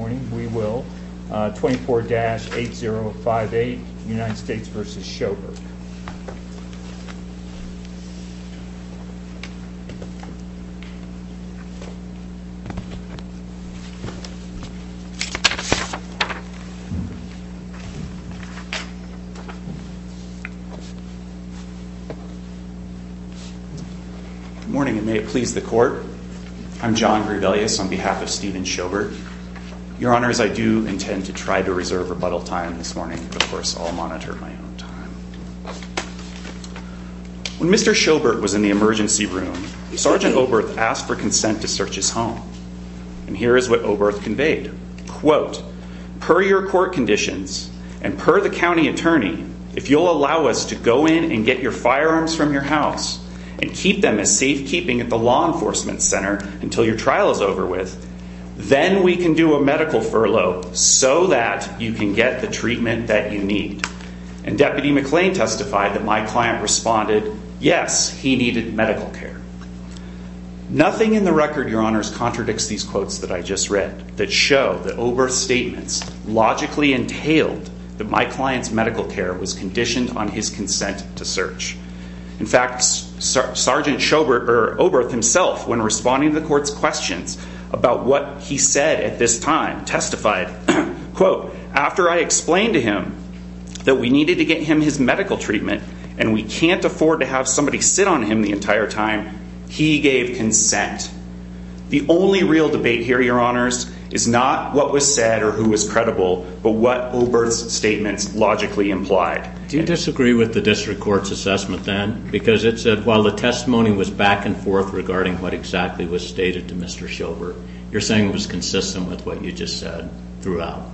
Good morning and may it please the court, I'm John Grebelius on behalf of Steven Shobert. Your honors, I do intend to try to reserve rebuttal time this morning, but of course I'll monitor my own time. When Mr. Shobert was in the emergency room, Sergeant Oberth asked for consent to search his home. And here is what Oberth conveyed, quote, per your court conditions and per the county attorney, if you'll allow us to go in and get your firearms from your house and keep them as safekeeping at the law enforcement center until your trial is over with, then we can do a medical furlough so that you can get the treatment that you need. And Deputy McClain testified that my client responded, yes, he needed medical care. Nothing in the record, your honors, contradicts these quotes that I just read that show that Oberth's statements logically entailed that my client's medical care was conditioned on his consent to search. In fact, Sergeant Oberth himself, when responding to the court's questions about what he said at this time, testified, quote, after I explained to him that we needed to get him his medical treatment and we can't afford to have somebody sit on him the entire time, he gave consent. The only real debate here, your honors, is not what was said or who was credible, but what Oberth's statements logically implied. Do you disagree with the district court's assessment then? Because it said while the testimony was back and forth regarding what exactly was stated to Mr. Schilbert, you're saying it was consistent with what you just said throughout.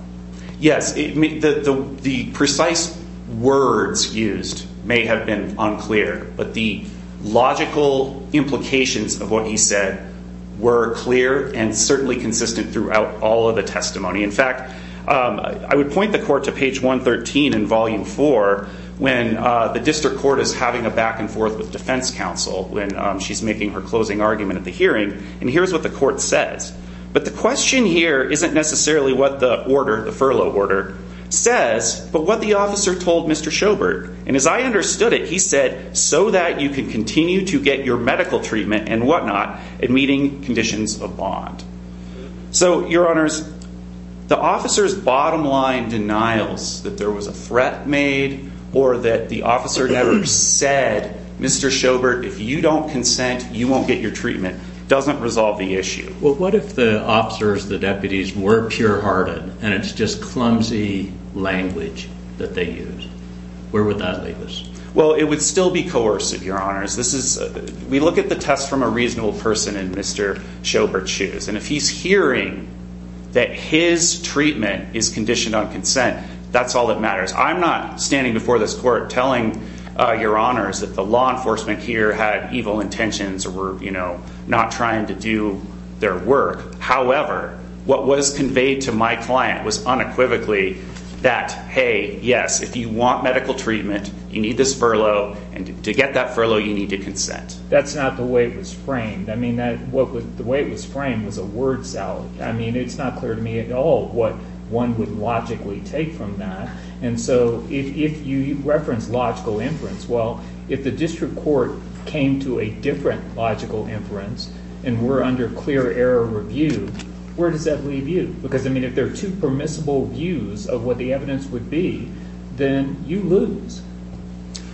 Yes, the precise words used may have been unclear, but the logical implications of what he said were clear and certainly consistent throughout all of the testimony. In fact, I would point the court to page 113 in volume four when the district court is having a back and forth with defense counsel when she's making her closing argument at the hearing. And here's what the court says. But the question here isn't necessarily what the order, the furlough order, says, but what the officer told Mr. Schilbert. And as I understood it, he said, so that you can continue to get your medical treatment and whatnot in meeting conditions of bond. So, your honors, the officer's bottom line denials that there was a threat made or that the officer never said, Mr. Schilbert, if you don't consent, you won't get your treatment, doesn't resolve the issue. Well, what if the officers, the deputies, were pure hearted and it's just clumsy language that they use? Where would that leave us? Well, it would still be coercive, your honors. We look at the test from a reasonable person in Mr. Schilbert's shoes. And if he's hearing that his treatment is conditioned on consent, that's all that matters. I'm not standing before this court telling your honors that the law enforcement here had evil intentions or were not trying to do their work. However, what was conveyed to my client was unequivocally that, hey, yes, if you want medical treatment, you need this furlough, and to get that furlough, you need to consent. That's not the way it was framed. I mean, the way it was framed was a word salad. I mean, it's not clear to me at all what one would logically take from that. And so if you reference logical inference, well, if the district court came to a different logical inference and were under clear error review, where does that leave you? Because, I mean, if there are two permissible views of what the evidence would be, then you lose.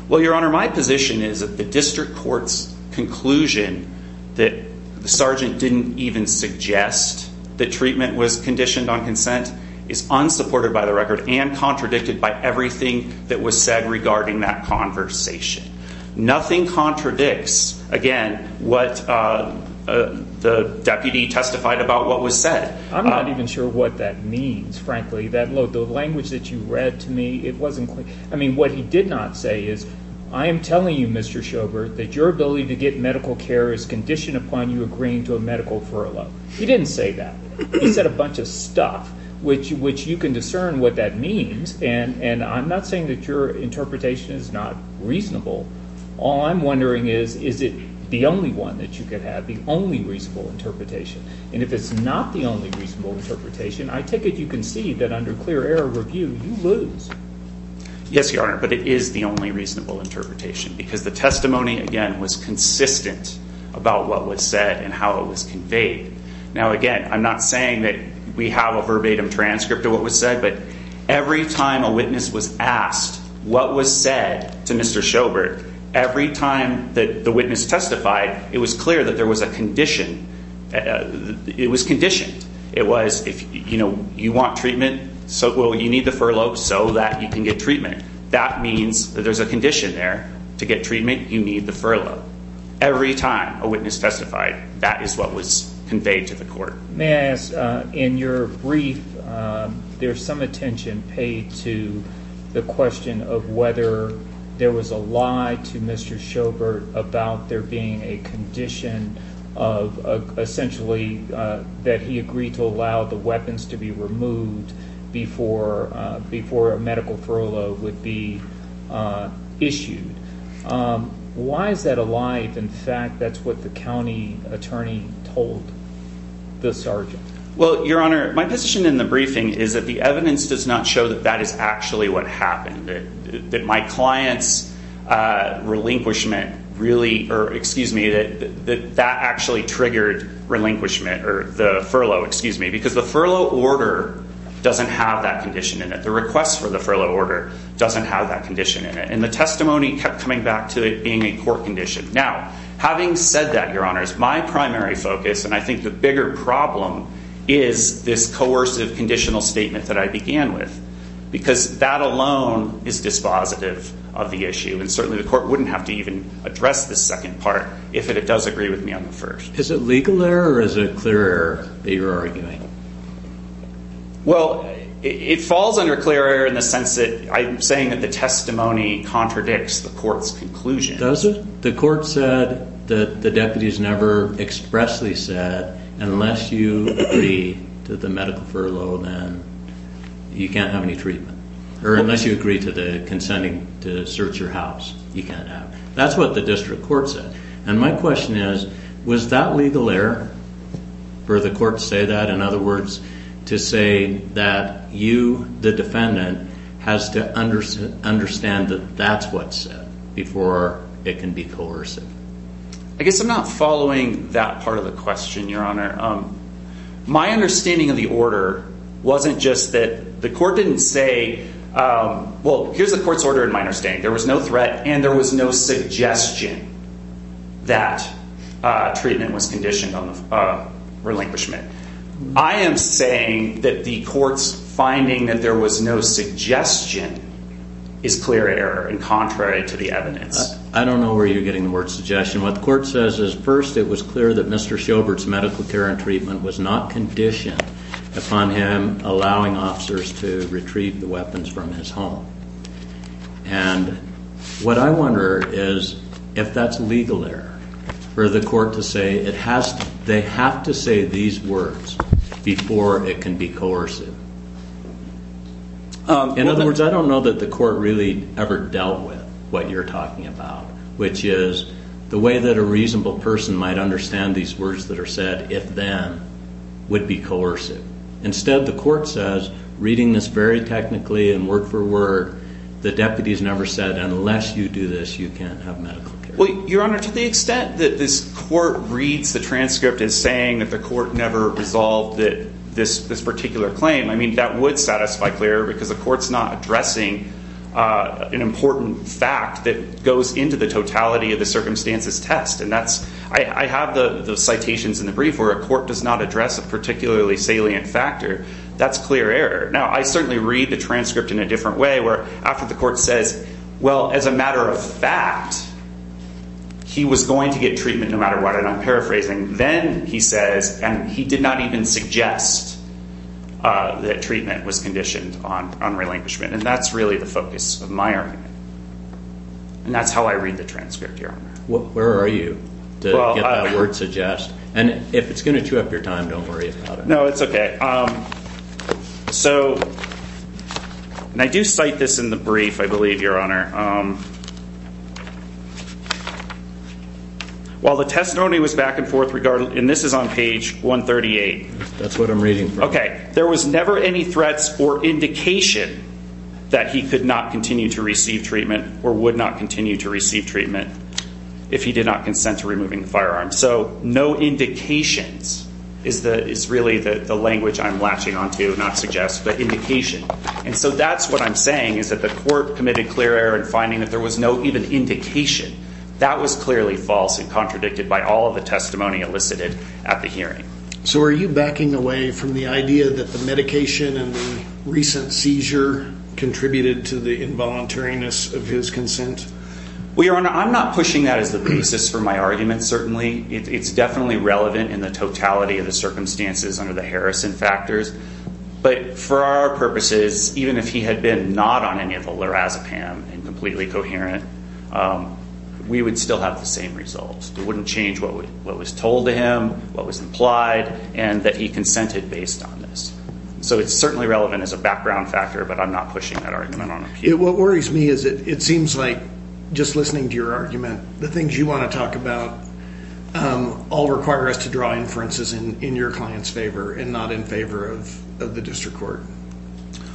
Well, Your Honor, my position is that the district court's conclusion that the sergeant didn't even suggest that treatment was conditioned on consent is unsupported by the record and contradicted by everything that was said regarding that conversation. Nothing contradicts, again, what the deputy testified about what was said. I'm not even sure what that means, frankly. The language that you read to me, it wasn't clear. I mean, what he did not say is, I am telling you, Mr. Schobert, that your ability to get medical care is conditioned upon you agreeing to a medical furlough. He didn't say that. He said a bunch of stuff, which you can discern what that means, and I'm not saying that your interpretation is not reasonable. All I'm wondering is, is it the only one that you could have, the only reasonable interpretation? And if it's not the only reasonable interpretation, I take it you concede that under clear error review, you lose. Yes, Your Honor, but it is the only reasonable interpretation because the testimony, again, was consistent about what was said and how it was conveyed. Now, again, I'm not saying that we have a verbatim transcript of what was said, but every time a witness was asked what was said to Mr. Schobert, every time that the witness testified, it was clear that there was a condition. It was conditioned. It was, you know, you want treatment, well, you need the furlough so that you can get treatment. That means that there's a condition there. To get treatment, you need the furlough. Every time a witness testified, that is what was conveyed to the court. May I ask, in your brief, there's some attention paid to the question of whether there was a lie to Mr. Schobert about there being a condition of essentially that he agreed to allow the weapons to be removed before a medical furlough would be issued. Why is that a lie? In fact, that's what the county attorney told the sergeant. Well, Your Honor, my position in the briefing is that the evidence does not show that that is actually what happened, that my client's relinquishment really, or excuse me, that that actually triggered relinquishment or the furlough, excuse me, because the furlough order doesn't have that condition in it. The request for the furlough order doesn't have that condition in it. And the testimony kept coming back to it being a court condition. Now, having said that, Your Honor, my primary focus, and I think the bigger problem, is this coercive conditional statement that I began with, because that alone is dispositive of the issue. And certainly the court wouldn't have to even address the second part if it does agree with me on the first. Is it legal error or is it clear error that you're arguing? Well, it falls under clear error in the sense that I'm saying that the testimony contradicts the court's conclusion. Does it? The court said that the deputies never expressly said, unless you agree to the medical furlough, then you can't have any treatment. Or unless you agree to the consenting to search your house, you can't have it. That's what the district court said. And my question is, was that legal error for the court to say that? In other words, to say that you, the defendant, has to understand that that's what's said before it can be coercive. I guess I'm not following that part of the question, Your Honor. My understanding of the order wasn't just that the court didn't say, well, here's the court's order in my understanding. There was no threat and there was no suggestion that treatment was conditional relinquishment. I am saying that the court's finding that there was no suggestion is clear error and contrary to the evidence. I don't know where you're getting the word suggestion. What the court says is, first, it was clear that Mr. Shilbert's medical care and treatment was not conditioned upon him allowing officers to retrieve the weapons from his home. And what I wonder is if that's legal error for the court to say they have to say these words before it can be coercive. In other words, I don't know that the court really ever dealt with what you're talking about, which is the way that a reasonable person might understand these words that are said, if them, would be coercive. Instead, the court says, reading this very technically and word for word, the deputies never said unless you do this, you can't have medical care. Well, Your Honor, to the extent that this court reads the transcript as saying that the court never resolved this particular claim, I mean, that would satisfy clear because the court's not addressing an important fact that goes into the totality of the circumstances test. And that's I have the citations in the brief where a court does not address a particularly salient factor. That's clear error. Now, I certainly read the transcript in a different way where after the court says, well, as a matter of fact, he was going to get treatment no matter what. And I'm paraphrasing. Then he says, and he did not even suggest that treatment was conditioned on on relinquishment. And that's really the focus of my argument. And that's how I read the transcript. Where are you to get the word suggest? And if it's going to chew up your time, don't worry about it. No, it's OK. So I do cite this in the brief, I believe, Your Honor. While the testimony was back and forth regarding and this is on page 138. That's what I'm reading. OK. There was never any threats or indication that he could not continue to receive treatment or would not continue to receive treatment if he did not consent to removing firearms. So no indications is the is really the language I'm latching on to not suggest the indication. And so that's what I'm saying is that the court committed clear error in finding that there was no even indication that was clearly false and contradicted by all of the testimony elicited at the hearing. So are you backing away from the idea that the medication and the recent seizure contributed to the involuntariness of his consent? We are on. I'm not pushing that as the basis for my argument. Certainly, it's definitely relevant in the totality of the circumstances under the Harrison factors. But for our purposes, even if he had been not on any of the Lorazepam and completely coherent, we would still have the same results. It wouldn't change what was told to him, what was implied, and that he consented based on this. So it's certainly relevant as a background factor, but I'm not pushing that argument. What worries me is it seems like just listening to your argument, the things you want to talk about all require us to draw inferences in your client's favor and not in favor of the district court.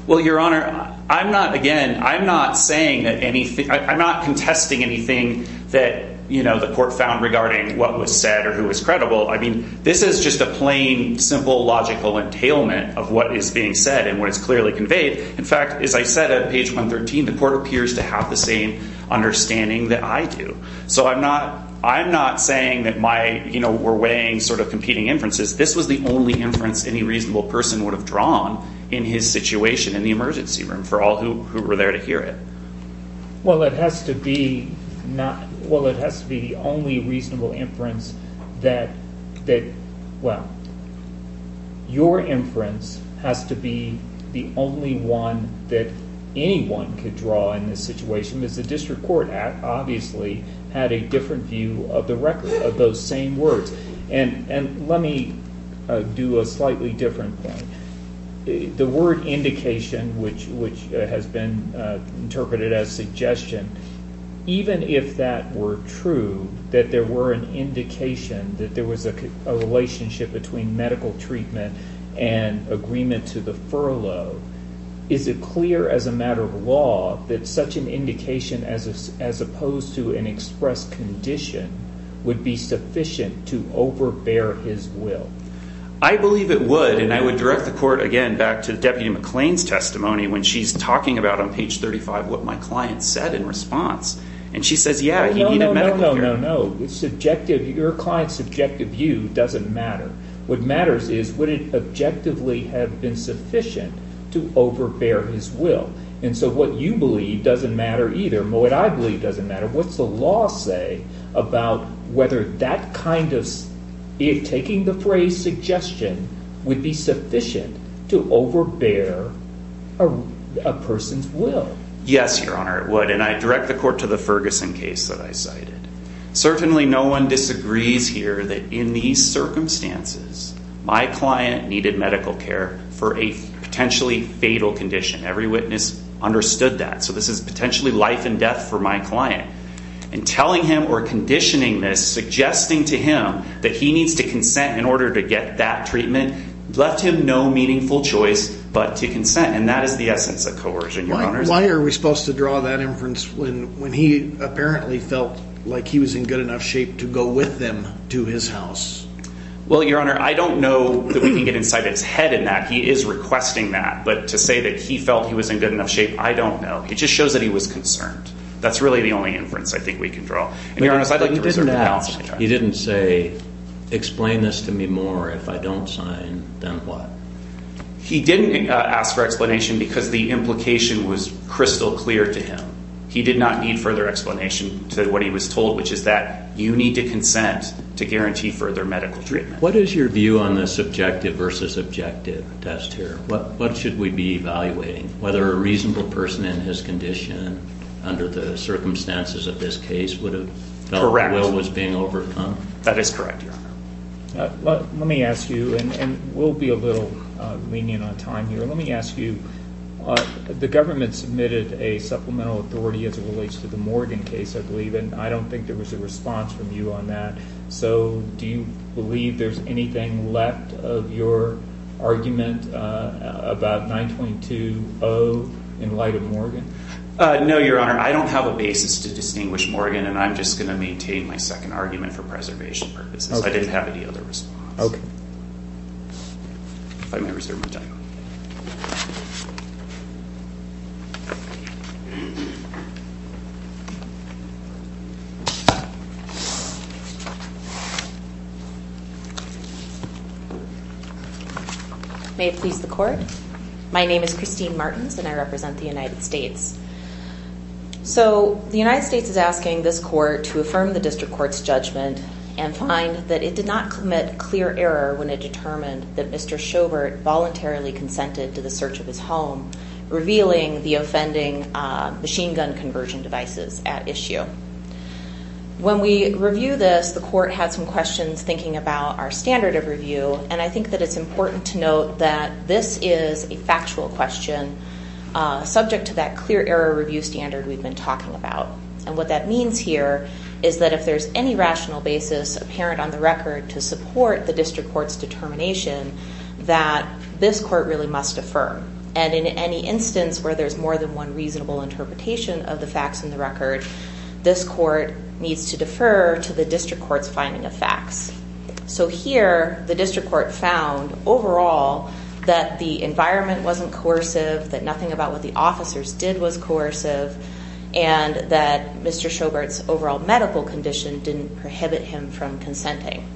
Well, Your Honor, I'm not. Again, I'm not saying anything. I'm not contesting anything that the court found regarding what was said or who was credible. I mean, this is just a plain, simple, logical entailment of what is being said and what is clearly conveyed. In fact, as I said at page 113, the court appears to have the same understanding that I do. So I'm not saying that we're weighing sort of competing inferences. This was the only inference any reasonable person would have drawn in his situation in the emergency room for all who were there to hear it. Well, it has to be the only reasonable inference that – well, your inference has to be the only one that anyone could draw in this situation, because the district court obviously had a different view of the record of those same words. And let me do a slightly different point. The word indication, which has been interpreted as suggestion, even if that were true, that there were an indication that there was a relationship between medical treatment and agreement to the furlough, is it clear as a matter of law that such an indication as opposed to an express condition would be sufficient to overbear his will? I believe it would, and I would direct the court again back to Deputy McClain's testimony when she's talking about on page 35 what my client said in response. And she says, yeah, he needed medical care. No, no, no, no, no. Your client's subjective view doesn't matter. What matters is would it objectively have been sufficient to overbear his will? And so what you believe doesn't matter either, but what I believe doesn't matter. What's the law say about whether that kind of – taking the phrase suggestion would be sufficient to overbear a person's will? Yes, Your Honor, it would, and I direct the court to the Ferguson case that I cited. Certainly no one disagrees here that in these circumstances my client needed medical care for a potentially fatal condition. Every witness understood that. So this is potentially life and death for my client. And telling him or conditioning this, suggesting to him that he needs to consent in order to get that treatment, left him no meaningful choice but to consent. And that is the essence of coercion, Your Honor. Why are we supposed to draw that inference when he apparently felt like he was in good enough shape to go with them to his house? Well, Your Honor, I don't know that we can get inside his head in that. He is requesting that. But to say that he felt he was in good enough shape, I don't know. It just shows that he was concerned. That's really the only inference I think we can draw. And, Your Honor, I'd like to reserve the balance of my time. But he didn't ask – he didn't say, explain this to me more if I don't sign, then what? He didn't ask for explanation because the implication was crystal clear to him. He did not need further explanation to what he was told, which is that you need to consent to guarantee further medical treatment. What is your view on the subjective versus objective test here? What should we be evaluating? Whether a reasonable person in his condition under the circumstances of this case would have felt like Will was being overcome? That is correct, Your Honor. Let me ask you, and we'll be a little lenient on time here. Let me ask you, the government submitted a supplemental authority as it relates to the Morgan case, I believe, and I don't think there was a response from you on that. So do you believe there's anything left of your argument about 9.20 in light of Morgan? No, Your Honor. I don't have a basis to distinguish Morgan, and I'm just going to maintain my second argument for preservation purposes. I didn't have any other response. If I may reserve my time. May it please the Court. My name is Christine Martins, and I represent the United States. So the United States is asking this Court to affirm the district court's judgment and find that it did not commit clear error when it determined that Mr. Sjobert voluntarily consented to the search of his home, revealing the offending machine gun conversion devices at issue. When we review this, the Court had some questions thinking about our standard of review, and I think that it's important to note that this is a factual question subject to that clear error review standard we've been talking about. And what that means here is that if there's any rational basis apparent on the record to support the district court's determination, that this Court really must affirm. And in any instance where there's more than one reasonable interpretation of the facts in the record, this Court needs to defer to the district court's finding of facts. So here, the district court found overall that the environment wasn't coercive, that nothing about what the officers did was coercive, and that Mr. Sjobert's overall medical condition didn't prohibit him from consenting.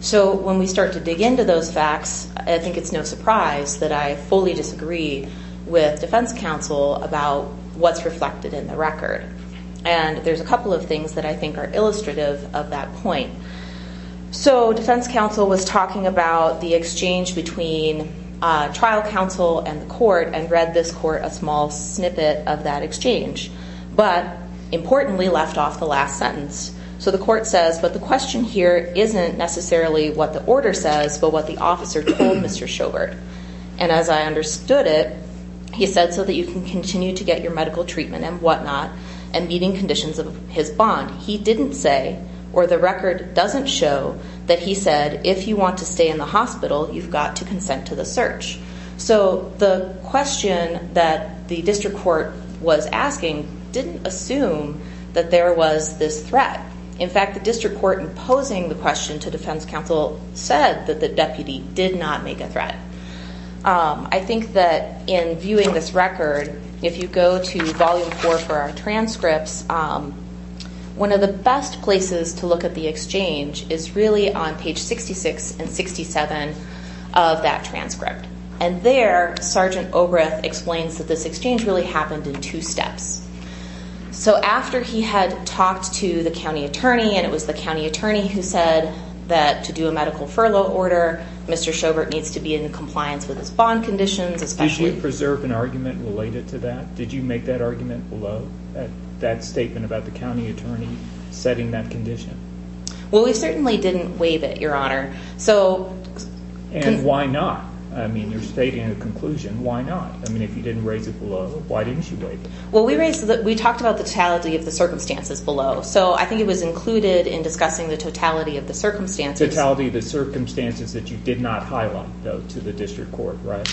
So when we start to dig into those facts, I think it's no surprise that I fully disagree with defense counsel about what's reflected in the record. And there's a couple of things that I think are illustrative of that point. So defense counsel was talking about the exchange between trial counsel and the court and read this court a small snippet of that exchange, but importantly left off the last sentence. So the court says, but the question here isn't necessarily what the order says, but what the officer told Mr. Sjobert. And as I understood it, he said so that you can continue to get your medical treatment and whatnot and meeting conditions of his bond. He didn't say, or the record doesn't show, that he said if you want to stay in the hospital, you've got to consent to the search. So the question that the district court was asking didn't assume that there was this threat. In fact, the district court, in posing the question to defense counsel, said that the deputy did not make a threat. I think that in viewing this record, if you go to volume four for our transcripts, one of the best places to look at the exchange is really on page 66 and 67 of that transcript. And there, Sergeant Obreth explains that this exchange really happened in two steps. So after he had talked to the county attorney, and it was the county attorney who said that to do a medical furlough order, Mr. Sjobert needs to be in compliance with his bond conditions, especially. Did you preserve an argument related to that? Did you make that argument below that statement about the county attorney setting that condition? Well, we certainly didn't waive it, Your Honor. And why not? I mean, you're stating a conclusion. Why not? I mean, if you didn't raise it below, why didn't you waive it? Well, we talked about the totality of the circumstances below. So I think it was included in discussing the totality of the circumstances. The totality of the circumstances that you did not highlight, though, to the district court, right?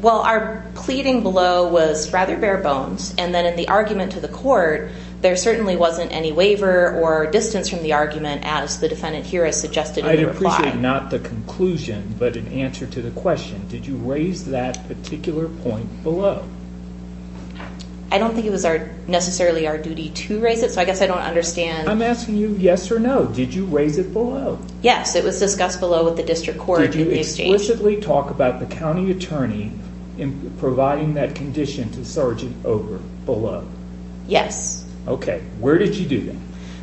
Well, our pleading below was rather bare bones, and then in the argument to the court, there certainly wasn't any waiver or distance from the argument as the defendant here has suggested in the reply. I'd appreciate not the conclusion but an answer to the question, did you raise that particular point below? I don't think it was necessarily our duty to raise it, so I guess I don't understand. I'm asking you yes or no. Did you raise it below? Yes. It was discussed below with the district court in the exchange. Did you explicitly talk about the county attorney providing that condition to Sergeant Oberth below? Yes. Okay. Where did you do that?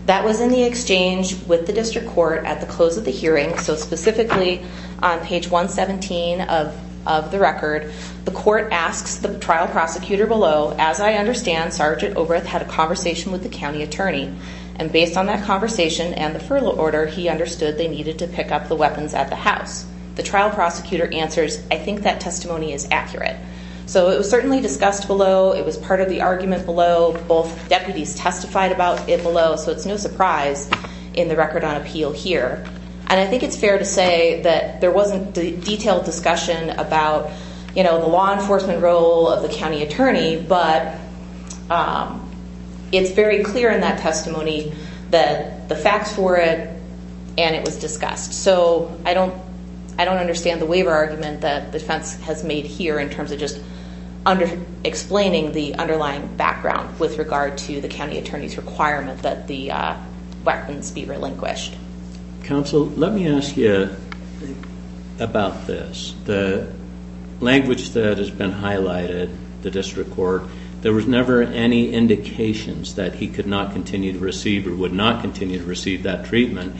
That was in the exchange with the district court at the close of the hearing, so specifically on page 117 of the record, the court asks the trial prosecutor below, as I understand, Sergeant Oberth had a conversation with the county attorney, and based on that conversation and the furlough order, he understood they needed to pick up the weapons at the house. The trial prosecutor answers, I think that testimony is accurate. So it was certainly discussed below. It was part of the argument below. Both deputies testified about it below, so it's no surprise in the record on appeal here, and I think it's fair to say that there wasn't detailed discussion about the law enforcement role of the county attorney, but it's very clear in that testimony that the facts were it, and it was discussed. So I don't understand the waiver argument that the defense has made here in terms of just explaining the underlying background with regard to the county attorney's requirement that the weapons be relinquished. Counsel, let me ask you about this. The language that has been highlighted, the district court, there was never any indications that he could not continue to receive or would not continue to receive that treatment.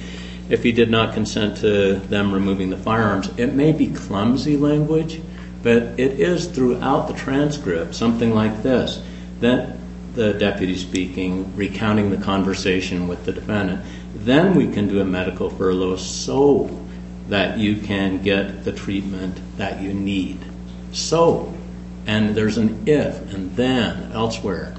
If he did not consent to them removing the firearms, it may be clumsy language, but it is throughout the transcript something like this, the deputy speaking, recounting the conversation with the defendant. Then we can do a medical furlough so that you can get the treatment that you need. So, and there's an if and then elsewhere.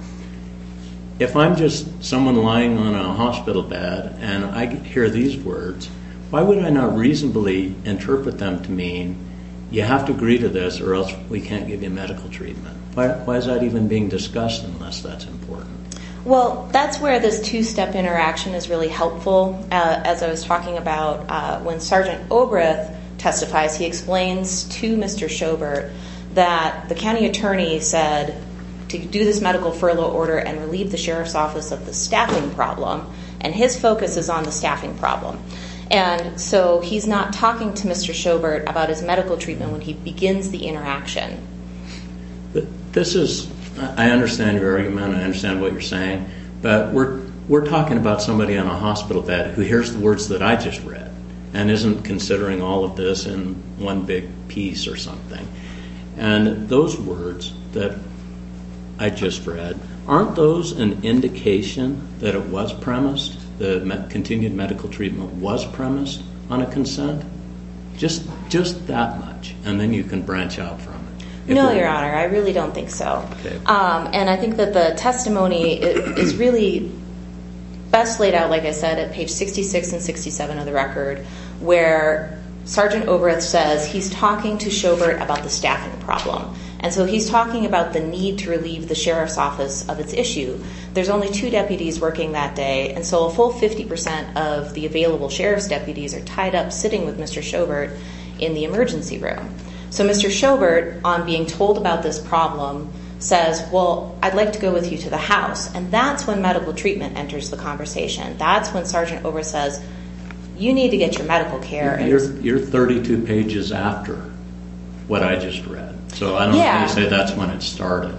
If I'm just someone lying on a hospital bed and I hear these words, why would I not reasonably interpret them to mean you have to agree to this or else we can't give you medical treatment? Why is that even being discussed unless that's important? Well, that's where this two-step interaction is really helpful. As I was talking about when Sergeant Obreth testifies, he explains to Mr. Sjobert that the county attorney said to do this medical furlough order and relieve the sheriff's office of the staffing problem, and his focus is on the staffing problem. And so he's not talking to Mr. Sjobert about his medical treatment when he begins the interaction. This is, I understand your argument, I understand what you're saying, but we're talking about somebody on a hospital bed who hears the words that I just read and isn't considering all of this in one big piece or something. And those words that I just read, aren't those an indication that it was premised, that continued medical treatment was premised on a consent? Just that much, and then you can branch out from it. No, Your Honor, I really don't think so. And I think that the testimony is really best laid out, like I said, at page 66 and 67 of the record, where Sergeant Obreth says he's talking to Sjobert about the staffing problem. And so he's talking about the need to relieve the sheriff's office of its issue. There's only two deputies working that day, and so a full 50% of the available sheriff's deputies are tied up sitting with Mr. Sjobert in the emergency room. So Mr. Sjobert, on being told about this problem, says, well, I'd like to go with you to the house. And that's when medical treatment enters the conversation. That's when Sergeant Obreth says, you need to get your medical care. You're 32 pages after what I just read. Yeah. So I don't think you say that's when it started.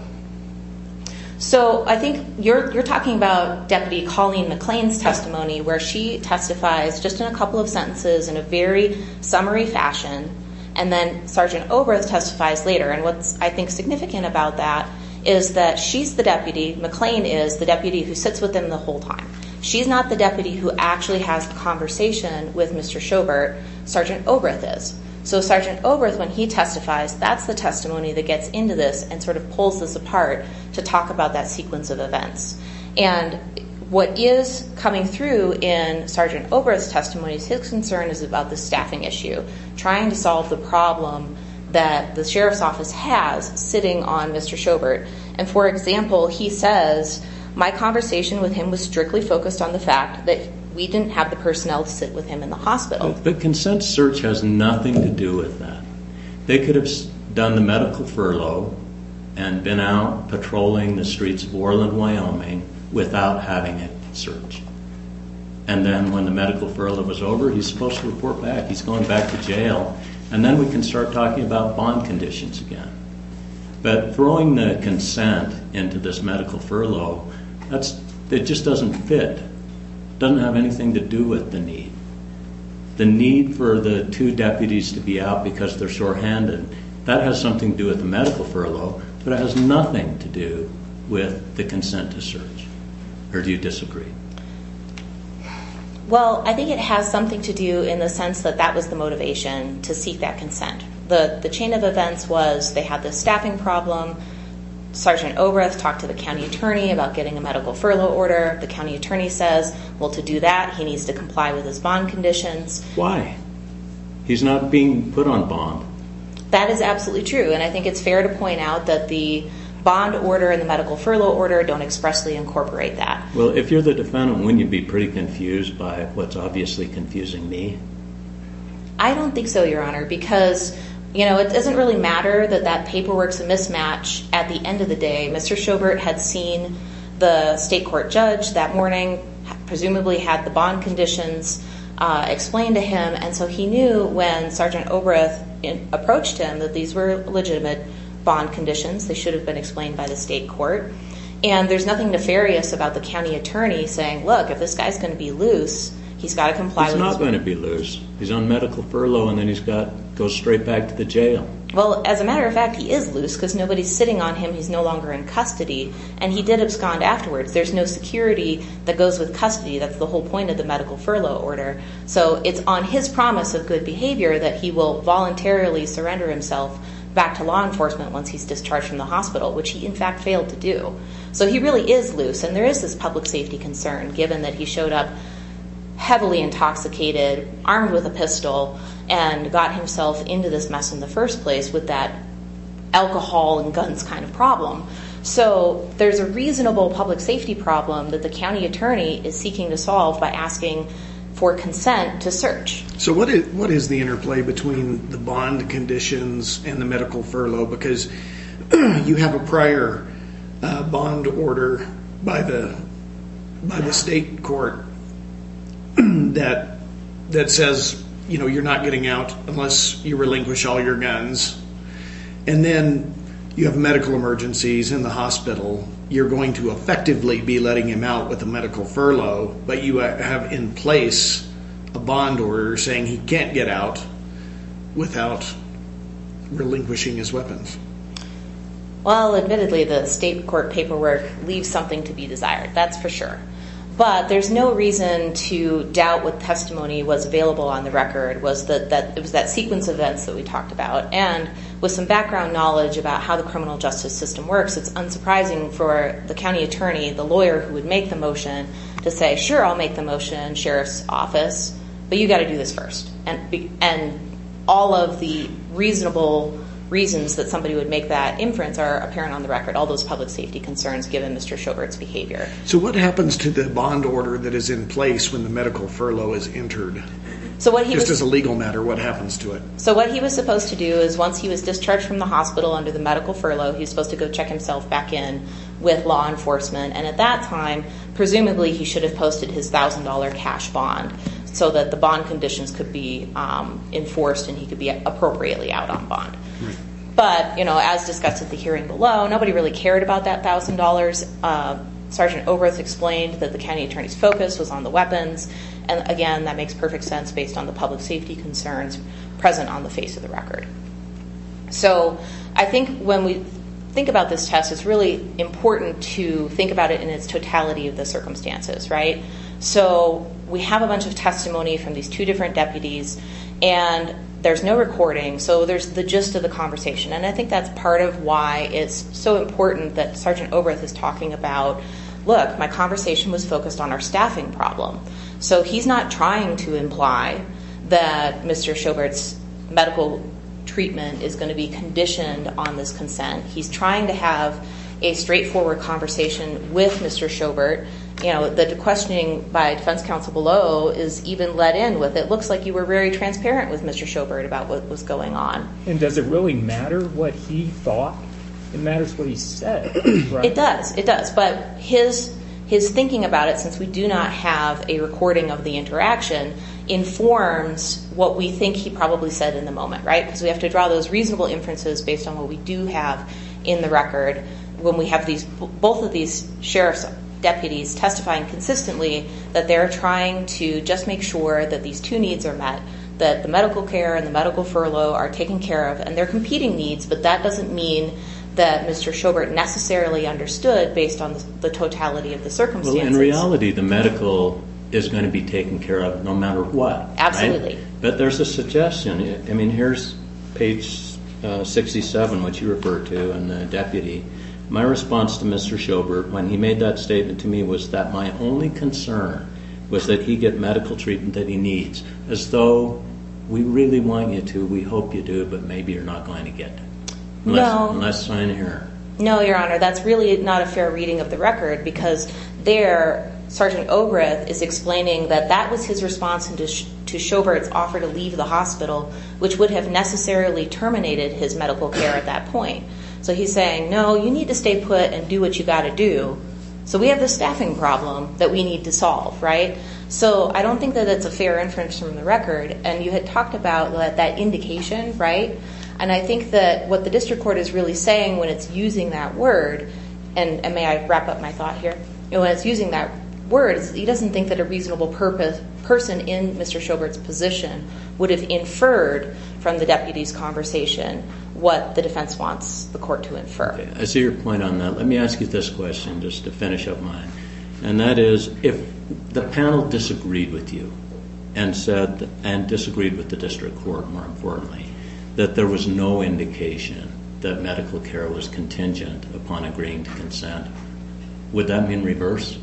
So I think you're talking about Deputy Colleen McLean's testimony, where she testifies just in a couple of sentences in a very summary fashion, and then Sergeant Obreth testifies later. And what's, I think, significant about that is that she's the deputy. McLean is the deputy who sits with him the whole time. She's not the deputy who actually has the conversation with Mr. Sjobert. Sergeant Obreth is. So Sergeant Obreth, when he testifies, that's the testimony that gets into this and sort of pulls this apart to talk about that sequence of events. And what is coming through in Sergeant Obreth's testimony is his concern is about the staffing issue, trying to solve the problem that the sheriff's office has sitting on Mr. Sjobert. And, for example, he says, my conversation with him was strictly focused on the fact that we didn't have the personnel to sit with him in the hospital. The consent search has nothing to do with that. They could have done the medical furlough and been out patrolling the streets of Orland, Wyoming, without having it searched. And then when the medical furlough was over, he's supposed to report back. He's going back to jail. And then we can start talking about bond conditions again. But throwing the consent into this medical furlough, it just doesn't fit. It doesn't have anything to do with the need. The need for the two deputies to be out because they're shorthanded, that has something to do with the medical furlough, but it has nothing to do with the consent to search. Or do you disagree? Well, I think it has something to do in the sense that that was the motivation to seek that consent. The chain of events was they had this staffing problem. Sergeant Obreth talked to the county attorney about getting a medical furlough order. The county attorney says, well, to do that, he needs to comply with his bond conditions. Why? He's not being put on bond. That is absolutely true. And I think it's fair to point out that the bond order and the medical furlough order don't expressly incorporate that. Well, if you're the defendant, wouldn't you be pretty confused by what's obviously confusing me? I don't think so, Your Honor, because, you know, it doesn't really matter that that paperwork's a mismatch. At the end of the day, Mr. Sjobert had seen the state court judge that morning, presumably had the bond conditions explained to him, and so he knew when Sergeant Obreth approached him that these were legitimate bond conditions. They should have been explained by the state court. And there's nothing nefarious about the county attorney saying, look, if this guy's going to be loose, he's got to comply with his bond. He's not going to be loose. He's on medical furlough, and then he's got to go straight back to the jail. Well, as a matter of fact, he is loose because nobody's sitting on him. He's no longer in custody, and he did abscond afterwards. There's no security that goes with custody. That's the whole point of the medical furlough order. So it's on his promise of good behavior that he will voluntarily surrender himself back to law enforcement once he's discharged from the hospital, which he, in fact, failed to do. So he really is loose, and there is this public safety concern, given that he showed up heavily intoxicated, armed with a pistol, and got himself into this mess in the first place with that alcohol and guns kind of problem. So there's a reasonable public safety problem that the county attorney is seeking to solve by asking for consent to search. So what is the interplay between the bond conditions and the medical furlough? You have a prior bond order by the state court that says you're not getting out unless you relinquish all your guns, and then you have medical emergencies in the hospital. You're going to effectively be letting him out with a medical furlough, but you have in place a bond order saying he can't get out without relinquishing his weapons. Well, admittedly, the state court paperwork leaves something to be desired. That's for sure. But there's no reason to doubt what testimony was available on the record. It was that sequence of events that we talked about, and with some background knowledge about how the criminal justice system works, it's unsurprising for the county attorney, the lawyer who would make the motion, to say, sure, I'll make the motion, sheriff's office, but you've got to do this first. And all of the reasonable reasons that somebody would make that inference are apparent on the record, all those public safety concerns given Mr. Schovert's behavior. So what happens to the bond order that is in place when the medical furlough is entered? Just as a legal matter, what happens to it? So what he was supposed to do is once he was discharged from the hospital under the medical furlough, he was supposed to go check himself back in with law enforcement. And at that time, presumably, he should have posted his $1,000 cash bond so that the bond conditions could be enforced and he could be appropriately out on bond. But, you know, as discussed at the hearing below, nobody really cared about that $1,000. Sergeant Oberth explained that the county attorney's focus was on the weapons. And, again, that makes perfect sense based on the public safety concerns present on the face of the record. So I think when we think about this test, it's really important to think about it in its totality of the circumstances, right? So we have a bunch of testimony from these two different deputies, and there's no recording. So there's the gist of the conversation. And I think that's part of why it's so important that Sergeant Oberth is talking about, look, my conversation was focused on our staffing problem. So he's not trying to imply that Mr. Sjobert's medical treatment is going to be conditioned on this consent. He's trying to have a straightforward conversation with Mr. Sjobert. You know, the questioning by defense counsel below is even let in with, it looks like you were very transparent with Mr. Sjobert about what was going on. And does it really matter what he thought? It matters what he said, right? It does. It does. But his thinking about it, since we do not have a recording of the interaction, informs what we think he probably said in the moment, right? Because we have to draw those reasonable inferences based on what we do have in the record. When we have both of these sheriff's deputies testifying consistently that they're trying to just make sure that these two needs are met, that the medical care and the medical furlough are taken care of, and they're competing needs, but that doesn't mean that Mr. Sjobert necessarily understood based on the totality of the circumstances. Well, in reality, the medical is going to be taken care of no matter what, right? Absolutely. But there's a suggestion. I mean, here's page 67, which you referred to, and the deputy. My response to Mr. Sjobert when he made that statement to me was that my only concern was that he get medical treatment that he needs, as though we really want you to, we hope you do, but maybe you're not going to get it. No. Unless it's not in here. No, Your Honor, that's really not a fair reading of the record, because there Sergeant Obreth is explaining that that was his response to Sjobert's offer to leave the hospital, which would have necessarily terminated his medical care at that point. So he's saying, no, you need to stay put and do what you've got to do. So we have this staffing problem that we need to solve, right? So I don't think that it's a fair inference from the record, and you had talked about that indication, right? And I think that what the district court is really saying when it's using that word, and may I wrap up my thought here? When it's using that word, he doesn't think that a reasonable person in Mr. Sjobert's position would have inferred from the deputy's conversation what the defense wants the court to infer. I see your point on that. Let me ask you this question just to finish up mine. And that is, if the panel disagreed with you and disagreed with the district court, more importantly, that there was no indication that medical care was contingent upon agreeing to consent, would that be in reverse?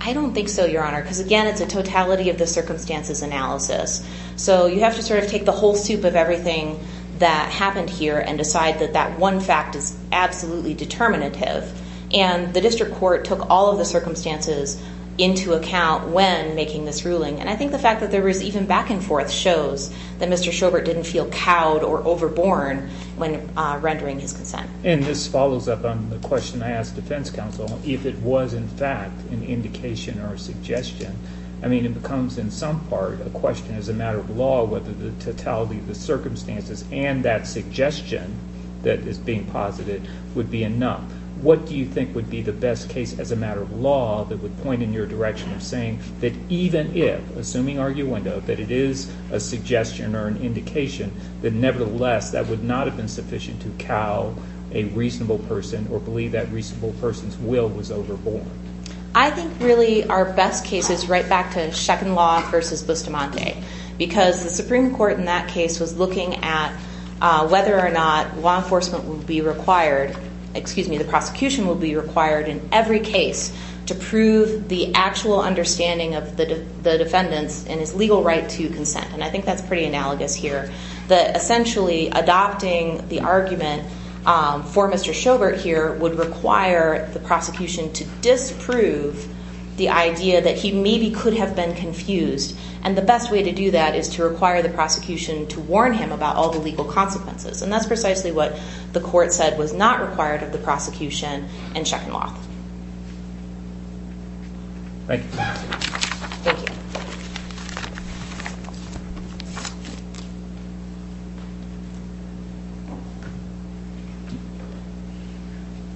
I don't think so, Your Honor, because, again, it's a totality of the circumstances analysis. So you have to sort of take the whole soup of everything that happened here and decide that that one fact is absolutely determinative. And the district court took all of the circumstances into account when making this ruling. And I think the fact that there was even back and forth shows that Mr. Sjobert didn't feel cowed or overborne when rendering his consent. And this follows up on the question I asked defense counsel, if it was, in fact, an indication or a suggestion. I mean, it becomes, in some part, a question as a matter of law whether the totality of the circumstances and that suggestion that is being posited would be enough. What do you think would be the best case as a matter of law that would point in your direction of saying that even if, assuming arguendo, that it is a suggestion or an indication, that nevertheless that would not have been sufficient to cow a reasonable person or believe that reasonable person's will was overborne? I think really our best case is right back to Sheckin Law versus Bustamante, because the Supreme Court in that case was looking at whether or not law enforcement would be required, excuse me, the prosecution would be required in every case to prove the actual understanding of the defendants and his legal right to consent. And I think that's pretty analogous here. Essentially, adopting the argument for Mr. Sjobert here would require the prosecution to disprove the idea that he maybe could have been confused. And the best way to do that is to require the prosecution to warn him about all the legal consequences. And that's precisely what the court said was not required of the prosecution in Sheckin Law. Thank you. Thank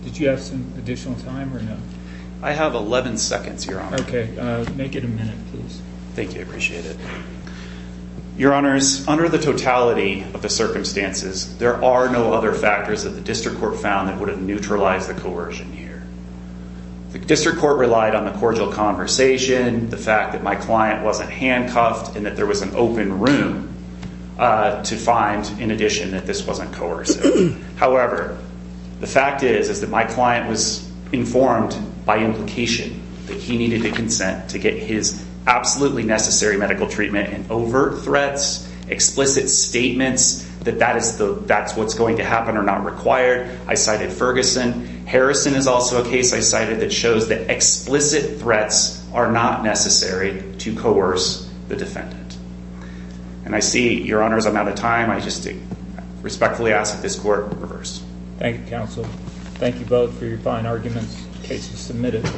you. Did you have some additional time or no? I have 11 seconds, Your Honor. Okay. Make it a minute, please. Thank you. I appreciate it. Your Honors, under the totality of the circumstances, there are no other factors that the district court found that would have neutralized the coercion here. The district court relied on the cordial conversation, the fact that my client wasn't handcuffed, and that there was an open room to find, in addition, that this wasn't coercive. However, the fact is that my client was informed by implication that he needed to consent to get his absolutely necessary medical treatment. And overt threats, explicit statements that that's what's going to happen are not required. I cited Ferguson. Harrison is also a case I cited that shows that explicit threats are not necessary to coerce the defendant. And I see, Your Honors, I'm out of time. I respectfully ask that this court reverse. Thank you, counsel. Thank you both for your fine arguments. Case is submitted.